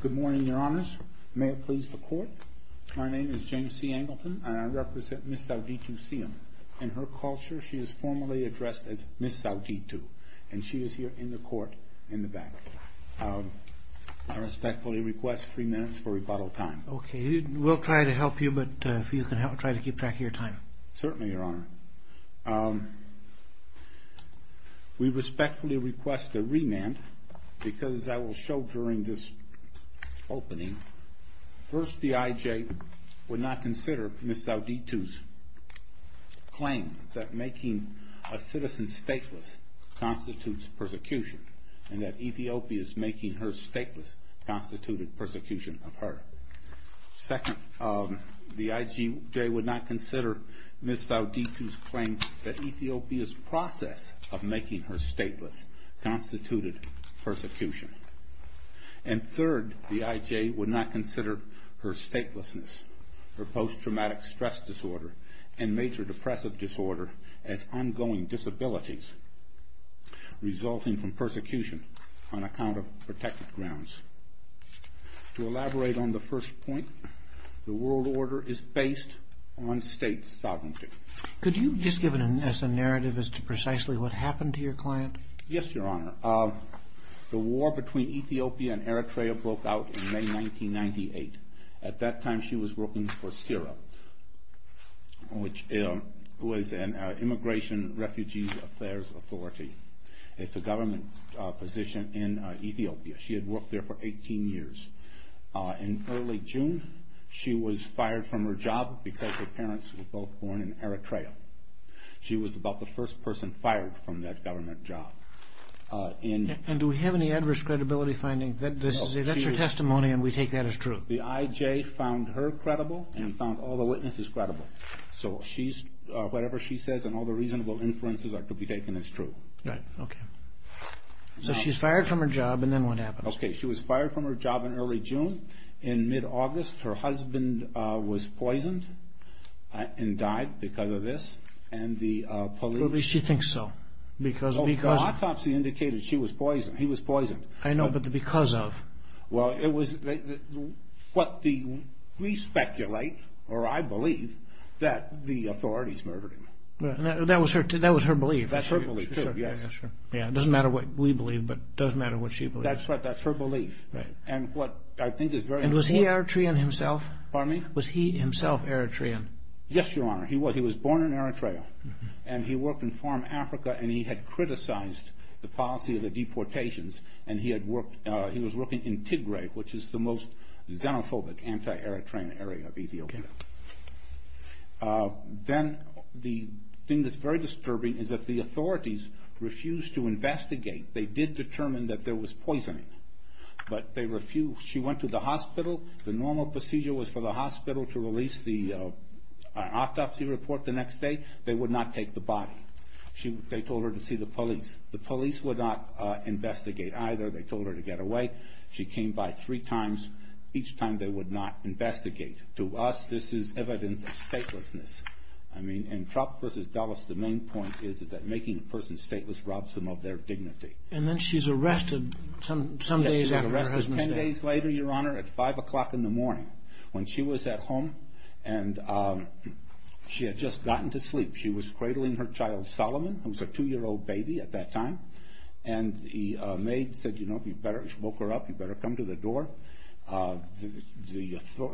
Good morning, Your Honors. May it please the Court, my name is James C. Angleton and I represent Ms. Sauditou Seyoum. In her culture, she is formally addressed as Ms. Sauditou, and she is here in the Court in the back. I respectfully request three minutes for rebuttal time. Okay, we'll try to help you, but if you can help, try to keep track of your time. Certainly, Your Honor. We respectfully request a remand, because I will show during this opening, first, the IJ would not consider Ms. Sauditou's claim that making a citizen stateless constitutes persecution, and that Ethiopia's making her stateless constituted persecution of her. Second, the IJ would not consider Ms. Sauditou's claim that Ethiopia's process of making her stateless constituted persecution. And third, the IJ would not consider her statelessness, her post-traumatic stress disorder, and major To elaborate on the first point, the world order is based on state sovereignty. Could you just give us a narrative as to precisely what happened to your client? Yes, Your Honor. The war between Ethiopia and Eritrea broke out in May 1998. At that time, she was working for CIRA, which was an immigration refugee affairs authority. It's a government position in Ethiopia. She had worked there for 18 years. In early June, she was fired from her job because her parents were both born in Eritrea. She was about the first person fired from that government job. And do we have any adverse credibility findings? If that's your testimony, and we take that as true. The IJ found her credible and found all the witnesses credible. So whatever she says and all the reasonable inferences are to be taken as true. Right, okay. So she's fired from her job, and then what happens? Okay, she was fired from her job in early June. In mid-August, her husband was poisoned and died because of this, and the police At least you think so. Because Oh, the autopsy indicated she was poisoned. He was poisoned. I know, but the because of? Well, it was what we speculate, or I believe, that the authorities murdered him. That was her belief. That's her belief, too. Yeah, sure. Yeah, it doesn't matter what we believe, but it does matter what she believes. That's right. That's her belief. Right. And what I think is very important And was he Eritrean himself? Pardon me? Was he himself Eritrean? Yes, Your Honor. He was. He was born in Eritrea, and he worked in farm Africa, and he had criticized the policy of the deportations. And he had worked, he was working in Tigray, which is the most xenophobic, anti-Eritrean area of Ethiopia. Okay. Then the thing that's very disturbing is that the authorities refused to investigate. They did determine that there was poisoning, but they refused. She went to the hospital. The normal procedure was for the hospital to release the autopsy report the next day. They would not take the body. They told her to see the police. The police would not investigate either. They told her to get away. She came by three times. Each time, they would not investigate. To us, this is evidence of statelessness. I mean, in Trump versus Dulles, the main point is that making a person stateless robs them of their dignity. And then she's arrested some days after her husband's death. Yes, she's arrested 10 days later, Your Honor, at 5 o'clock in the morning when she was at home, and she had just gotten to sleep. She was cradling her child, Solomon, who was a two-year-old baby at that time. And the maid said, you know, you better smoke her up. You better come to the door.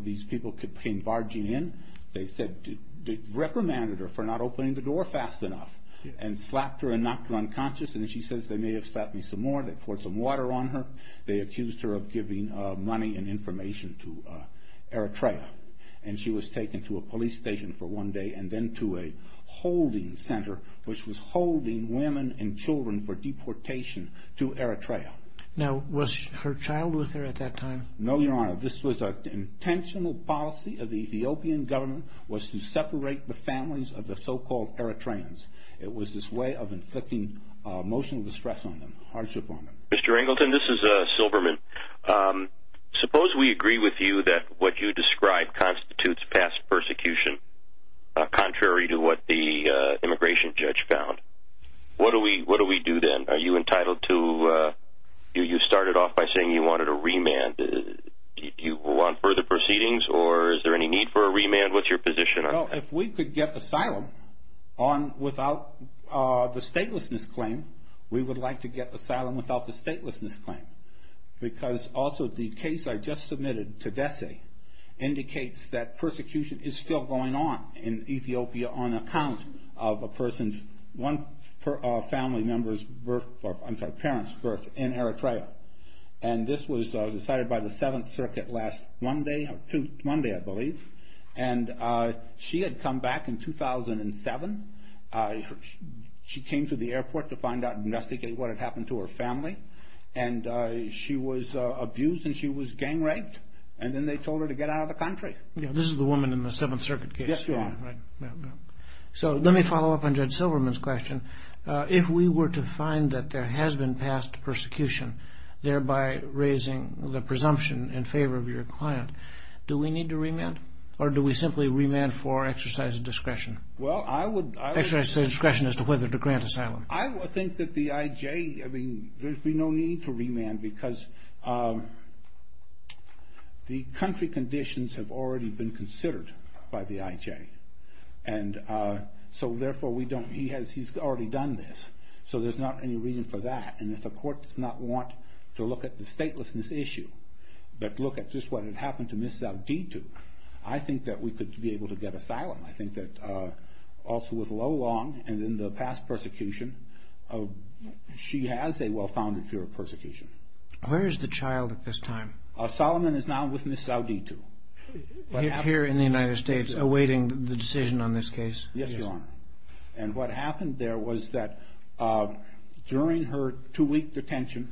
These people came barging in. They reprimanded her for not opening the door fast enough and slapped her and knocked her unconscious. And she says, they may have slapped me some more. They poured some water on her. They accused her of giving money and information to Eritrea. And she was taken to a police station for one day and then to a holding center, which was holding women and children for deportation to Eritrea. Now, was her child with her at that time? No, Your Honor. This was an intentional policy of the Ethiopian government, was to separate the families of the so-called Eritreans. It was this way of inflicting emotional distress on them, hardship on them. Mr. Angleton, this is Silverman. Suppose we agree with you that what you describe constitutes past persecution, contrary to what the immigration judge found. What do we do then? Are you entitled to, you started off by saying you wanted a remand. Do you want further proceedings, or is there any need for a remand? What's your position on that? If we could get asylum without the statelessness claim, we would like to get asylum without the statelessness claim. Because also, the case I just submitted to DESE indicates that persecution is still going on in Ethiopia on account of a person's, one family member's birth, I'm sorry, parent's birth in Eritrea. And this was decided by the Seventh Circuit last Monday, Monday I believe. And she had come back in 2007, she came to the airport to find out and investigate what had happened to her family. And she was abused and she was gang raped. And then they told her to get out of the country. Yeah, this is the woman in the Seventh Circuit case. Yes, Your Honor. So let me follow up on Judge Silverman's question. If we were to find that there has been past persecution, thereby raising the presumption in favor of your client, do we need to remand? Or do we simply remand for exercise of discretion? Well, I would. Exercise discretion as to whether to grant asylum. I think that the IJ, I mean, there'd be no need to remand because the country conditions have already been considered by the IJ. And so therefore, we don't, he's already done this. So there's not any reason for that. And if the court does not want to look at the statelessness issue, but look at just what had happened to Ms. Zaldito, I think that we could be able to get asylum. I think that also with Lolong and in the past persecution, she has a well-founded fear of persecution. Where is the child at this time? Solomon is now with Ms. Zaldito. Here in the United States, awaiting the decision on this case? Yes, Your Honor. And what happened there was that during her two-week detention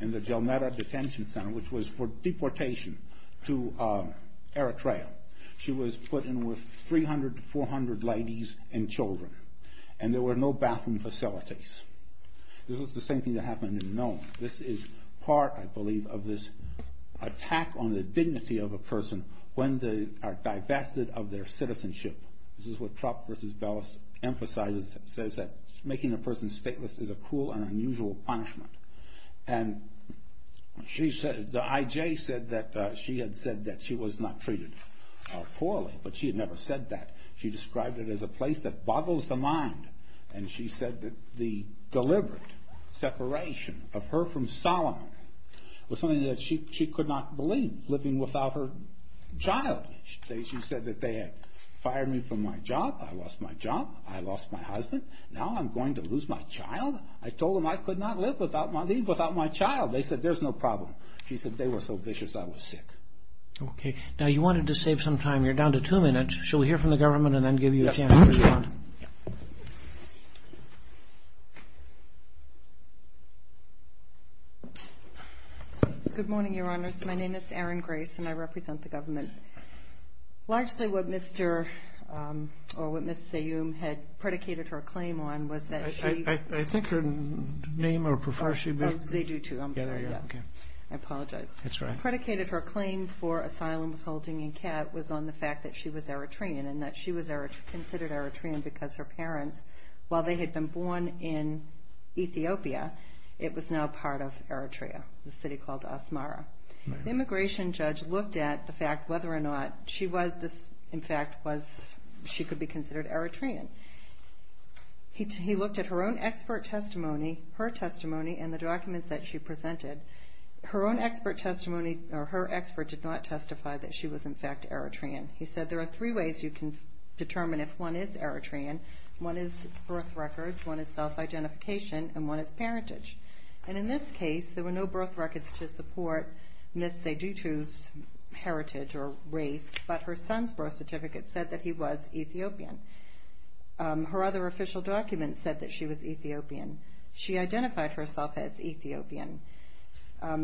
in the Jelmeda Detention Center, which was for deportation to Eritrea, she was put in with 300 to 400 ladies and children. And there were no bathroom facilities. This was the same thing that happened in Nome. This is part, I believe, of this attack on the dignity of a person when they are divested of their citizenship. This is what Trott v. Bellis emphasizes, says that making a person stateless is a cruel and unusual punishment. And the IJ said that she had said that she was not treated poorly, but she had never said that. She described it as a place that boggles the mind. And she said that the deliberate separation of her from Solomon was something that she could not believe, living without her child. She said that they had fired me from my job, I lost my job, I lost my husband, now I'm going to lose my child? I told them I could not live without my child. They said, there's no problem. She said, they were so vicious, I was sick. Okay, now you wanted to save some time. You're down to two minutes. Shall we hear from the government and then give you a chance to respond? Good morning, Your Honors. My name is Erin Grace, and I represent the government. Largely what Mr. or what Ms. Sayoum had predicated her claim on was that she- I think her name or profession- They do too, I'm sorry, yes. I apologize. That's all right. Predicated her claim for asylum with holding a cat was on the fact that she was Eritrean and that she was considered Eritrean because her parents, while they had been born in Ethiopia, it was now part of Eritrea, the city called Asmara. The immigration judge looked at the fact whether or not she was, in fact, she could be considered Eritrean. He looked at her own expert testimony, her testimony, and the documents that she presented. Her own expert testimony, or her expert, did not testify that she was, in fact, Eritrean. He said, there are three ways you can determine if one is Eritrean. One is birth records, one is self-identification, and one is parentage. And in this case, there were no birth records to support Ms. Sayoum's heritage or race, but her son's birth certificate said that he was Ethiopian. Her other official document said that she was Ethiopian. She identified herself as Ethiopian.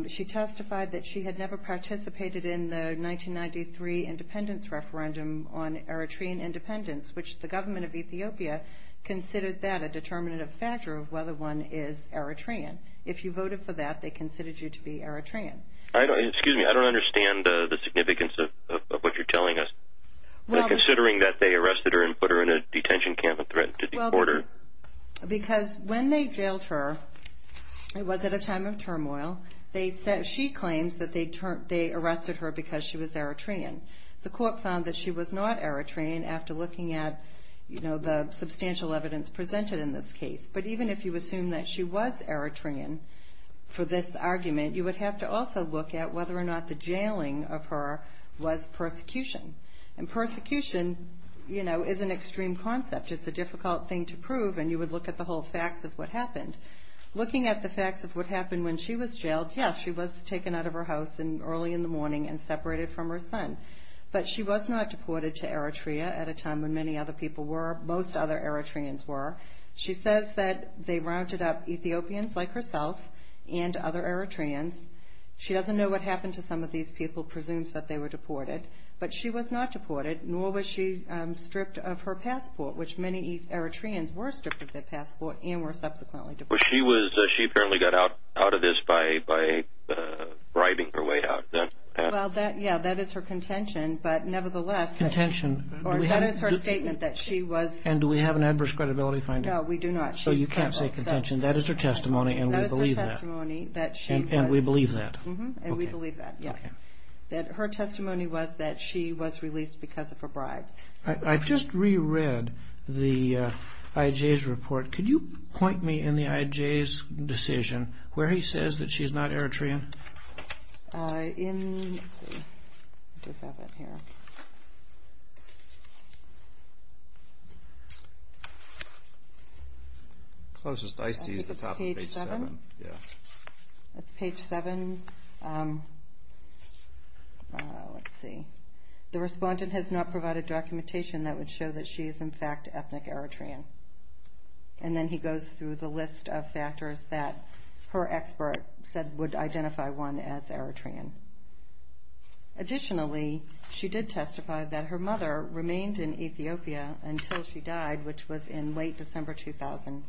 She testified that she had never participated in the 1993 independence referendum on Eritrean independence, which the government of Ethiopia considered that a determinative factor of whether one is Eritrean. If you voted for that, they considered you to be Eritrean. I don't, excuse me, I don't understand the significance of what you're telling us. Considering that they arrested her and put her in a detention camp and threatened to deport her. Because when they jailed her, it was at a time of turmoil. They said, she claims that they arrested her because she was Eritrean. The court found that she was not Eritrean after looking at, you know, the substantial evidence presented in this case. But even if you assume that she was Eritrean for this argument, you would have to also look at whether or not the jailing of her was persecution. And persecution, you know, is an extreme concept. It's a difficult thing to prove and you would look at the whole facts of what happened. Looking at the facts of what happened when she was jailed, yes, she was taken out of her house early in the morning and separated from her son. But she was not deported to Eritrea at a time when many other people were. Most other Eritreans were. She says that they rounded up Ethiopians like herself and other Eritreans. She doesn't know what happened to some of these people, presumes that they were deported. But she was not deported, nor was she stripped of her passport, which many Eritreans were stripped of their passport and were subsequently deported. She apparently got out of this by bribing her way out. Yeah, that is her contention. But nevertheless, that is her statement that she was. And do we have an adverse credibility finding? No, we do not. So you can't say contention. That is her testimony and we believe that. That is her testimony that she was. And we believe that. And we believe that, yes. That her testimony was that she was released because of a bribe. I just re-read the IJ's report. Could you point me in the IJ's decision where he says that she's not Eritrean? In, let's see, I do have it here. Closest I see is the top of page seven, yeah. That's page seven. Let's see. The respondent has not provided documentation that would show that she is in fact ethnic Eritrean. And then he goes through the list of factors that her expert said would identify one as Eritrean. Additionally, she did testify that her mother remained in Ethiopia until she died, which was in late December 2000.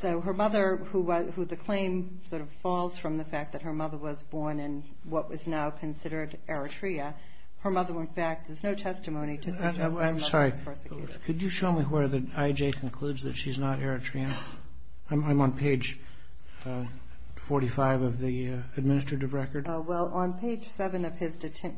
So her mother, who the claim sort of falls from the fact that her mother was born in what was now considered Eritrea, her mother went back. There's no testimony to suggest that her mother was persecuted. Could you show me where the IJ concludes that she's not Eritrean? I'm on page 45 of the administrative record. Well, on page seven of his, he says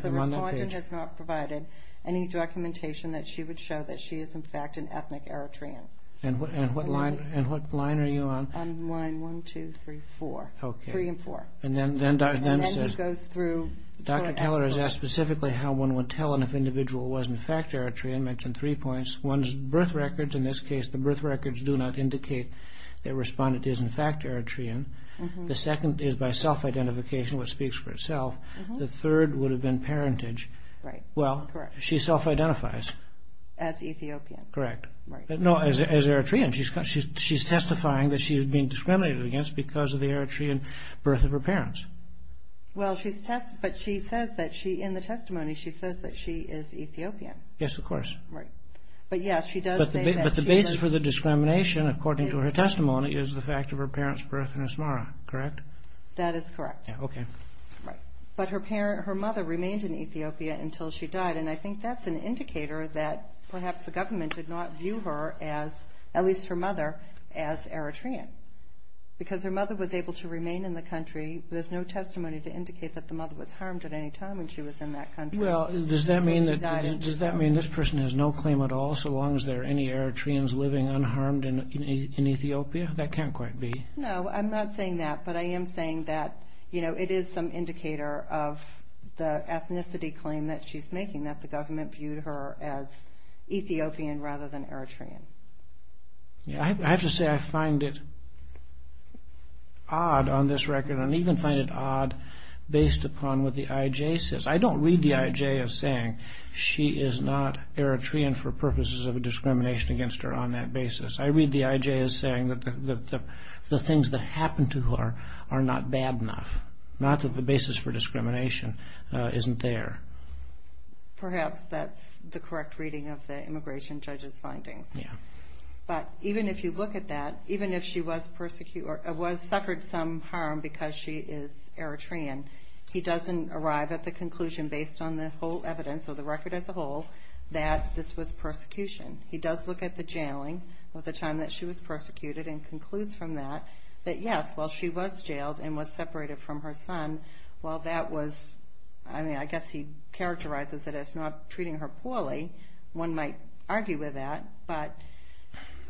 the respondent has not provided any documentation that she would show that she is in fact an ethnic Eritrean. And what line are you on? I'm on line one, two, three, four. Okay. Three and four. And then he goes through. Dr. Taylor has asked specifically how one would tell if an individual was in fact Eritrean. Mentioned three points. One is birth records. In this case, the birth records do not indicate that respondent is in fact Eritrean. The second is by self-identification, which speaks for itself. The third would have been parentage. Right. Well, she self-identifies. As Ethiopian. Correct. Right. No, as Eritrean. She's testifying that she is being discriminated against because of the Eritrean birth of her parents. Well, she's test, but she says that she, in the testimony, she says that she is Ethiopian. Yes, of course. Right. But yes, she does say that she is. But the basis for the discrimination, according to her testimony, is the fact of her parents' birth in Asmara. Correct? That is correct. Okay. Right. But her mother remained in Ethiopia until she died. And I think that's an indicator that perhaps the government did not view her as, at least her mother, as Eritrean. Because her mother was able to remain in the country. There's no testimony to indicate that the mother was harmed at any time when she was in that country. Well, does that mean that this person has no claim at all, so long as there are any Eritreans living unharmed in Ethiopia? That can't quite be. No, I'm not saying that. But I am saying that, you know, it is some indicator of the ethnicity claim that she's making, that the government viewed her as Ethiopian rather than Eritrean. Yeah, I have to say I find it odd on this record, and even find it odd based upon what the IJ says. I don't read the IJ as saying she is not Eritrean for purposes of discrimination against her on that basis. I read the IJ as saying that the things that happened to her are not bad enough. Not that the basis for discrimination isn't there. Perhaps that's the correct reading of the immigration judge's findings. Yeah. But even if you look at that, even if she was persecuted or suffered some harm because she is Eritrean, he doesn't arrive at the conclusion based on the whole evidence or the record as a whole that this was persecution. He does look at the jailing of the time that she was persecuted and concludes from that that, yes, while she was jailed and was separated from her son, while that was, I mean, I guess he characterizes it as not treating her poorly. One might argue with that, but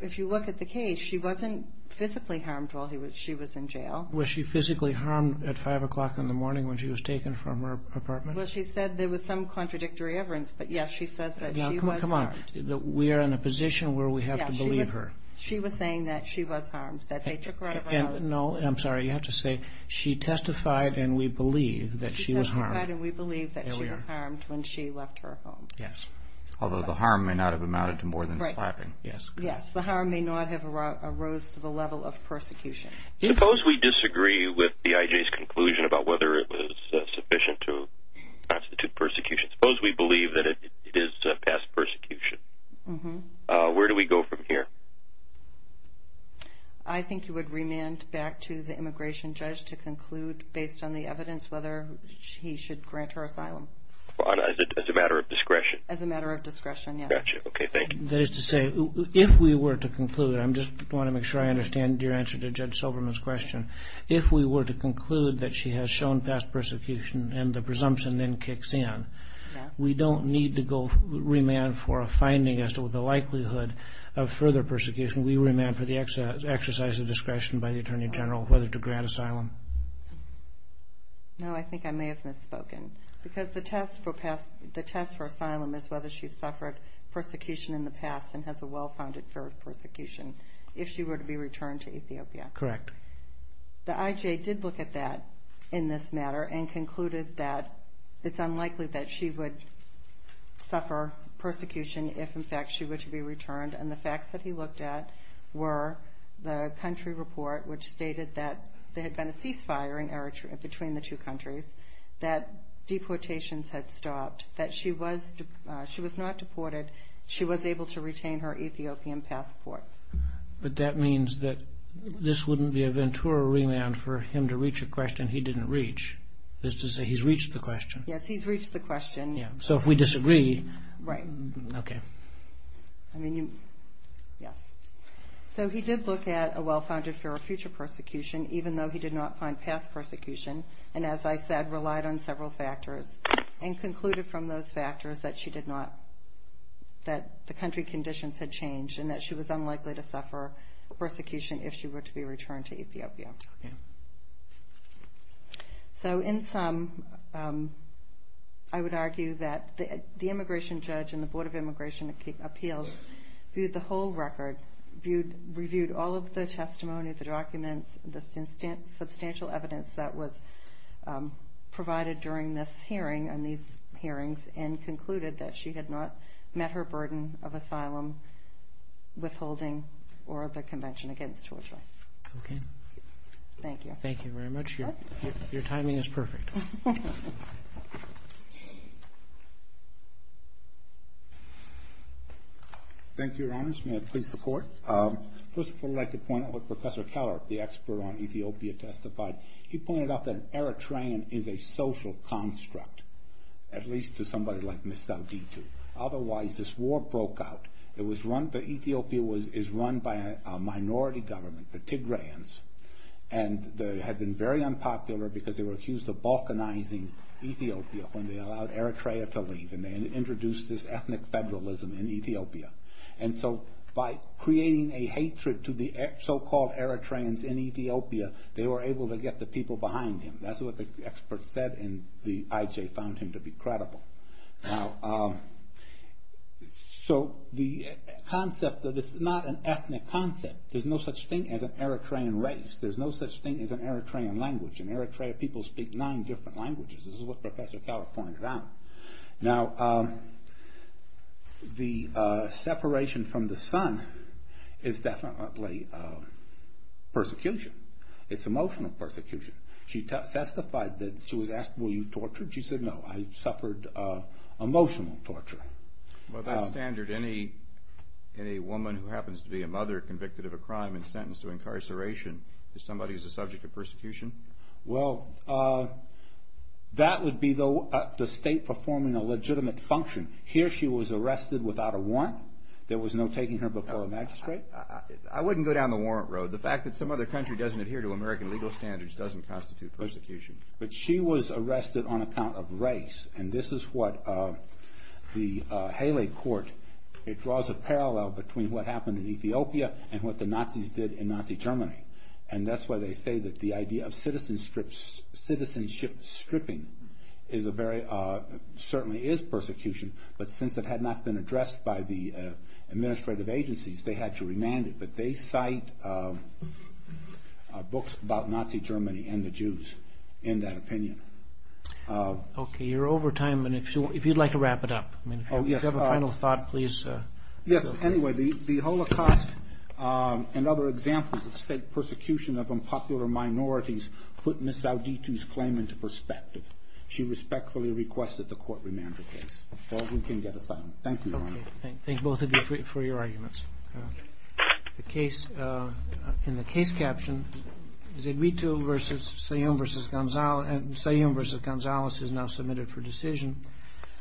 if you look at the case, she wasn't physically harmed while she was in jail. Was she physically harmed at 5 o'clock in the morning when she was taken from her apartment? Well, she said there was some contradictory evidence, but yes, she says that she was harmed. Come on. We are in a position where we have to believe her. She was saying that she was harmed, that they took her out of her house. No, I'm sorry, you have to say she testified and we believe that she was harmed. She testified and we believe that she was harmed when she left her home. Yes, although the harm may not have amounted to more than slapping. Yes, the harm may not have arose to the level of persecution. Suppose we disagree with the IJ's conclusion about whether it was sufficient to constitute persecution. Suppose we believe that it is past persecution. Where do we go from here? I think you would remand back to the immigration judge to conclude, based on the evidence, whether he should grant her asylum. As a matter of discretion? As a matter of discretion, yes. Got you. Okay, thank you. That is to say, if we were to conclude, I just want to make sure I understand your answer to Judge Silverman's question. If we were to conclude that she has shown past persecution and the presumption then kicks in, we don't need to remand for a finding as to the likelihood of further persecution. We remand for the exercise of discretion by the Attorney General whether to grant asylum. No, I think I may have misspoken. Because the test for asylum is whether she suffered persecution in the past and has a well-founded fear of persecution if she were to be returned to Ethiopia. Correct. The IJ did look at that in this matter and concluded that it's unlikely that she would suffer persecution if, in fact, she were to be returned. The facts that he looked at were the country report, which stated that there had been a cease-firing between the two countries, that deportations had stopped, that she was not deported. She was able to retain her Ethiopian passport. But that means that this wouldn't be a ventura remand for him to reach a question he didn't reach. That is to say, he's reached the question. Yes, he's reached the question. So, if we disagree... Right. Okay. I mean, yes. So, he did look at a well-founded fear of future persecution, even though he did not find past persecution. And as I said, relied on several factors and concluded from those factors that the country conditions had changed and that she was unlikely to suffer persecution if she were to be returned to Ethiopia. Okay. So, in sum, I would argue that the immigration judge and the Board of Immigration Appeals viewed the whole record, reviewed all of the testimony, the documents, the substantial evidence that was provided during this hearing and these hearings, and concluded that she had not met her burden of asylum, withholding, or the Convention Against Torture. Okay. Thank you. Thank you very much. Your timing is perfect. Thank you, Your Honors. May I please report? First of all, I'd like to point out what Professor Keller, the expert on Ethiopia, testified. He pointed out that an Eritrean is a social construct, at least to somebody like Ms. Zaldito. Otherwise, this war broke out. That Ethiopia is run by a minority government, the Tigrayans, and they had been very unpopular because they were accused of balkanizing Ethiopia when they allowed Eritrea to leave. And they introduced this ethnic federalism in Ethiopia. And so, by creating a hatred to the so-called Eritreans in Ethiopia, they were able to get the people behind him. That's what the expert said, and the IJ found him to be credible. Now, so the concept that it's not an ethnic concept. There's no such thing as an Eritrean race. There's no such thing as an Eritrean language. In Eritrea, people speak nine different languages. This is what Professor Keller pointed out. Now, the separation from the son is definitely persecution. It's emotional persecution. She testified that she was asked, were you tortured? She said, no. I suffered emotional torture. By that standard, any woman who happens to be a mother convicted of a crime and sentenced to incarceration is somebody who's a subject of persecution? Well, that would be the state performing a legitimate function. Here, she was arrested without a warrant. There was no taking her before a magistrate. I wouldn't go down the warrant road. The fact that some other country doesn't adhere to American legal standards doesn't constitute persecution. But she was arrested on account of race. And this is what the Haley court, it draws a parallel between what happened in Ethiopia and what the Nazis did in Nazi Germany. And that's why they say that the idea of citizenship stripping certainly is persecution. But since it had not been addressed by the administrative agencies, they had to remand it. But they cite books about Nazi Germany and the Jews in that opinion. OK, you're over time. And if you'd like to wrap it up, if you have a final thought, please. Yes. Anyway, the Holocaust and other examples of state persecution of unpopular minorities put Ms. Auditu's claim into perspective. She respectfully requested the court remand the case. All who can get asylum. Thank you, Your Honor. Thank both of you for your arguments. Case in the case. Caption. Is it me to versus say versus Gonzalez versus Gonzalez is now submitted for decision.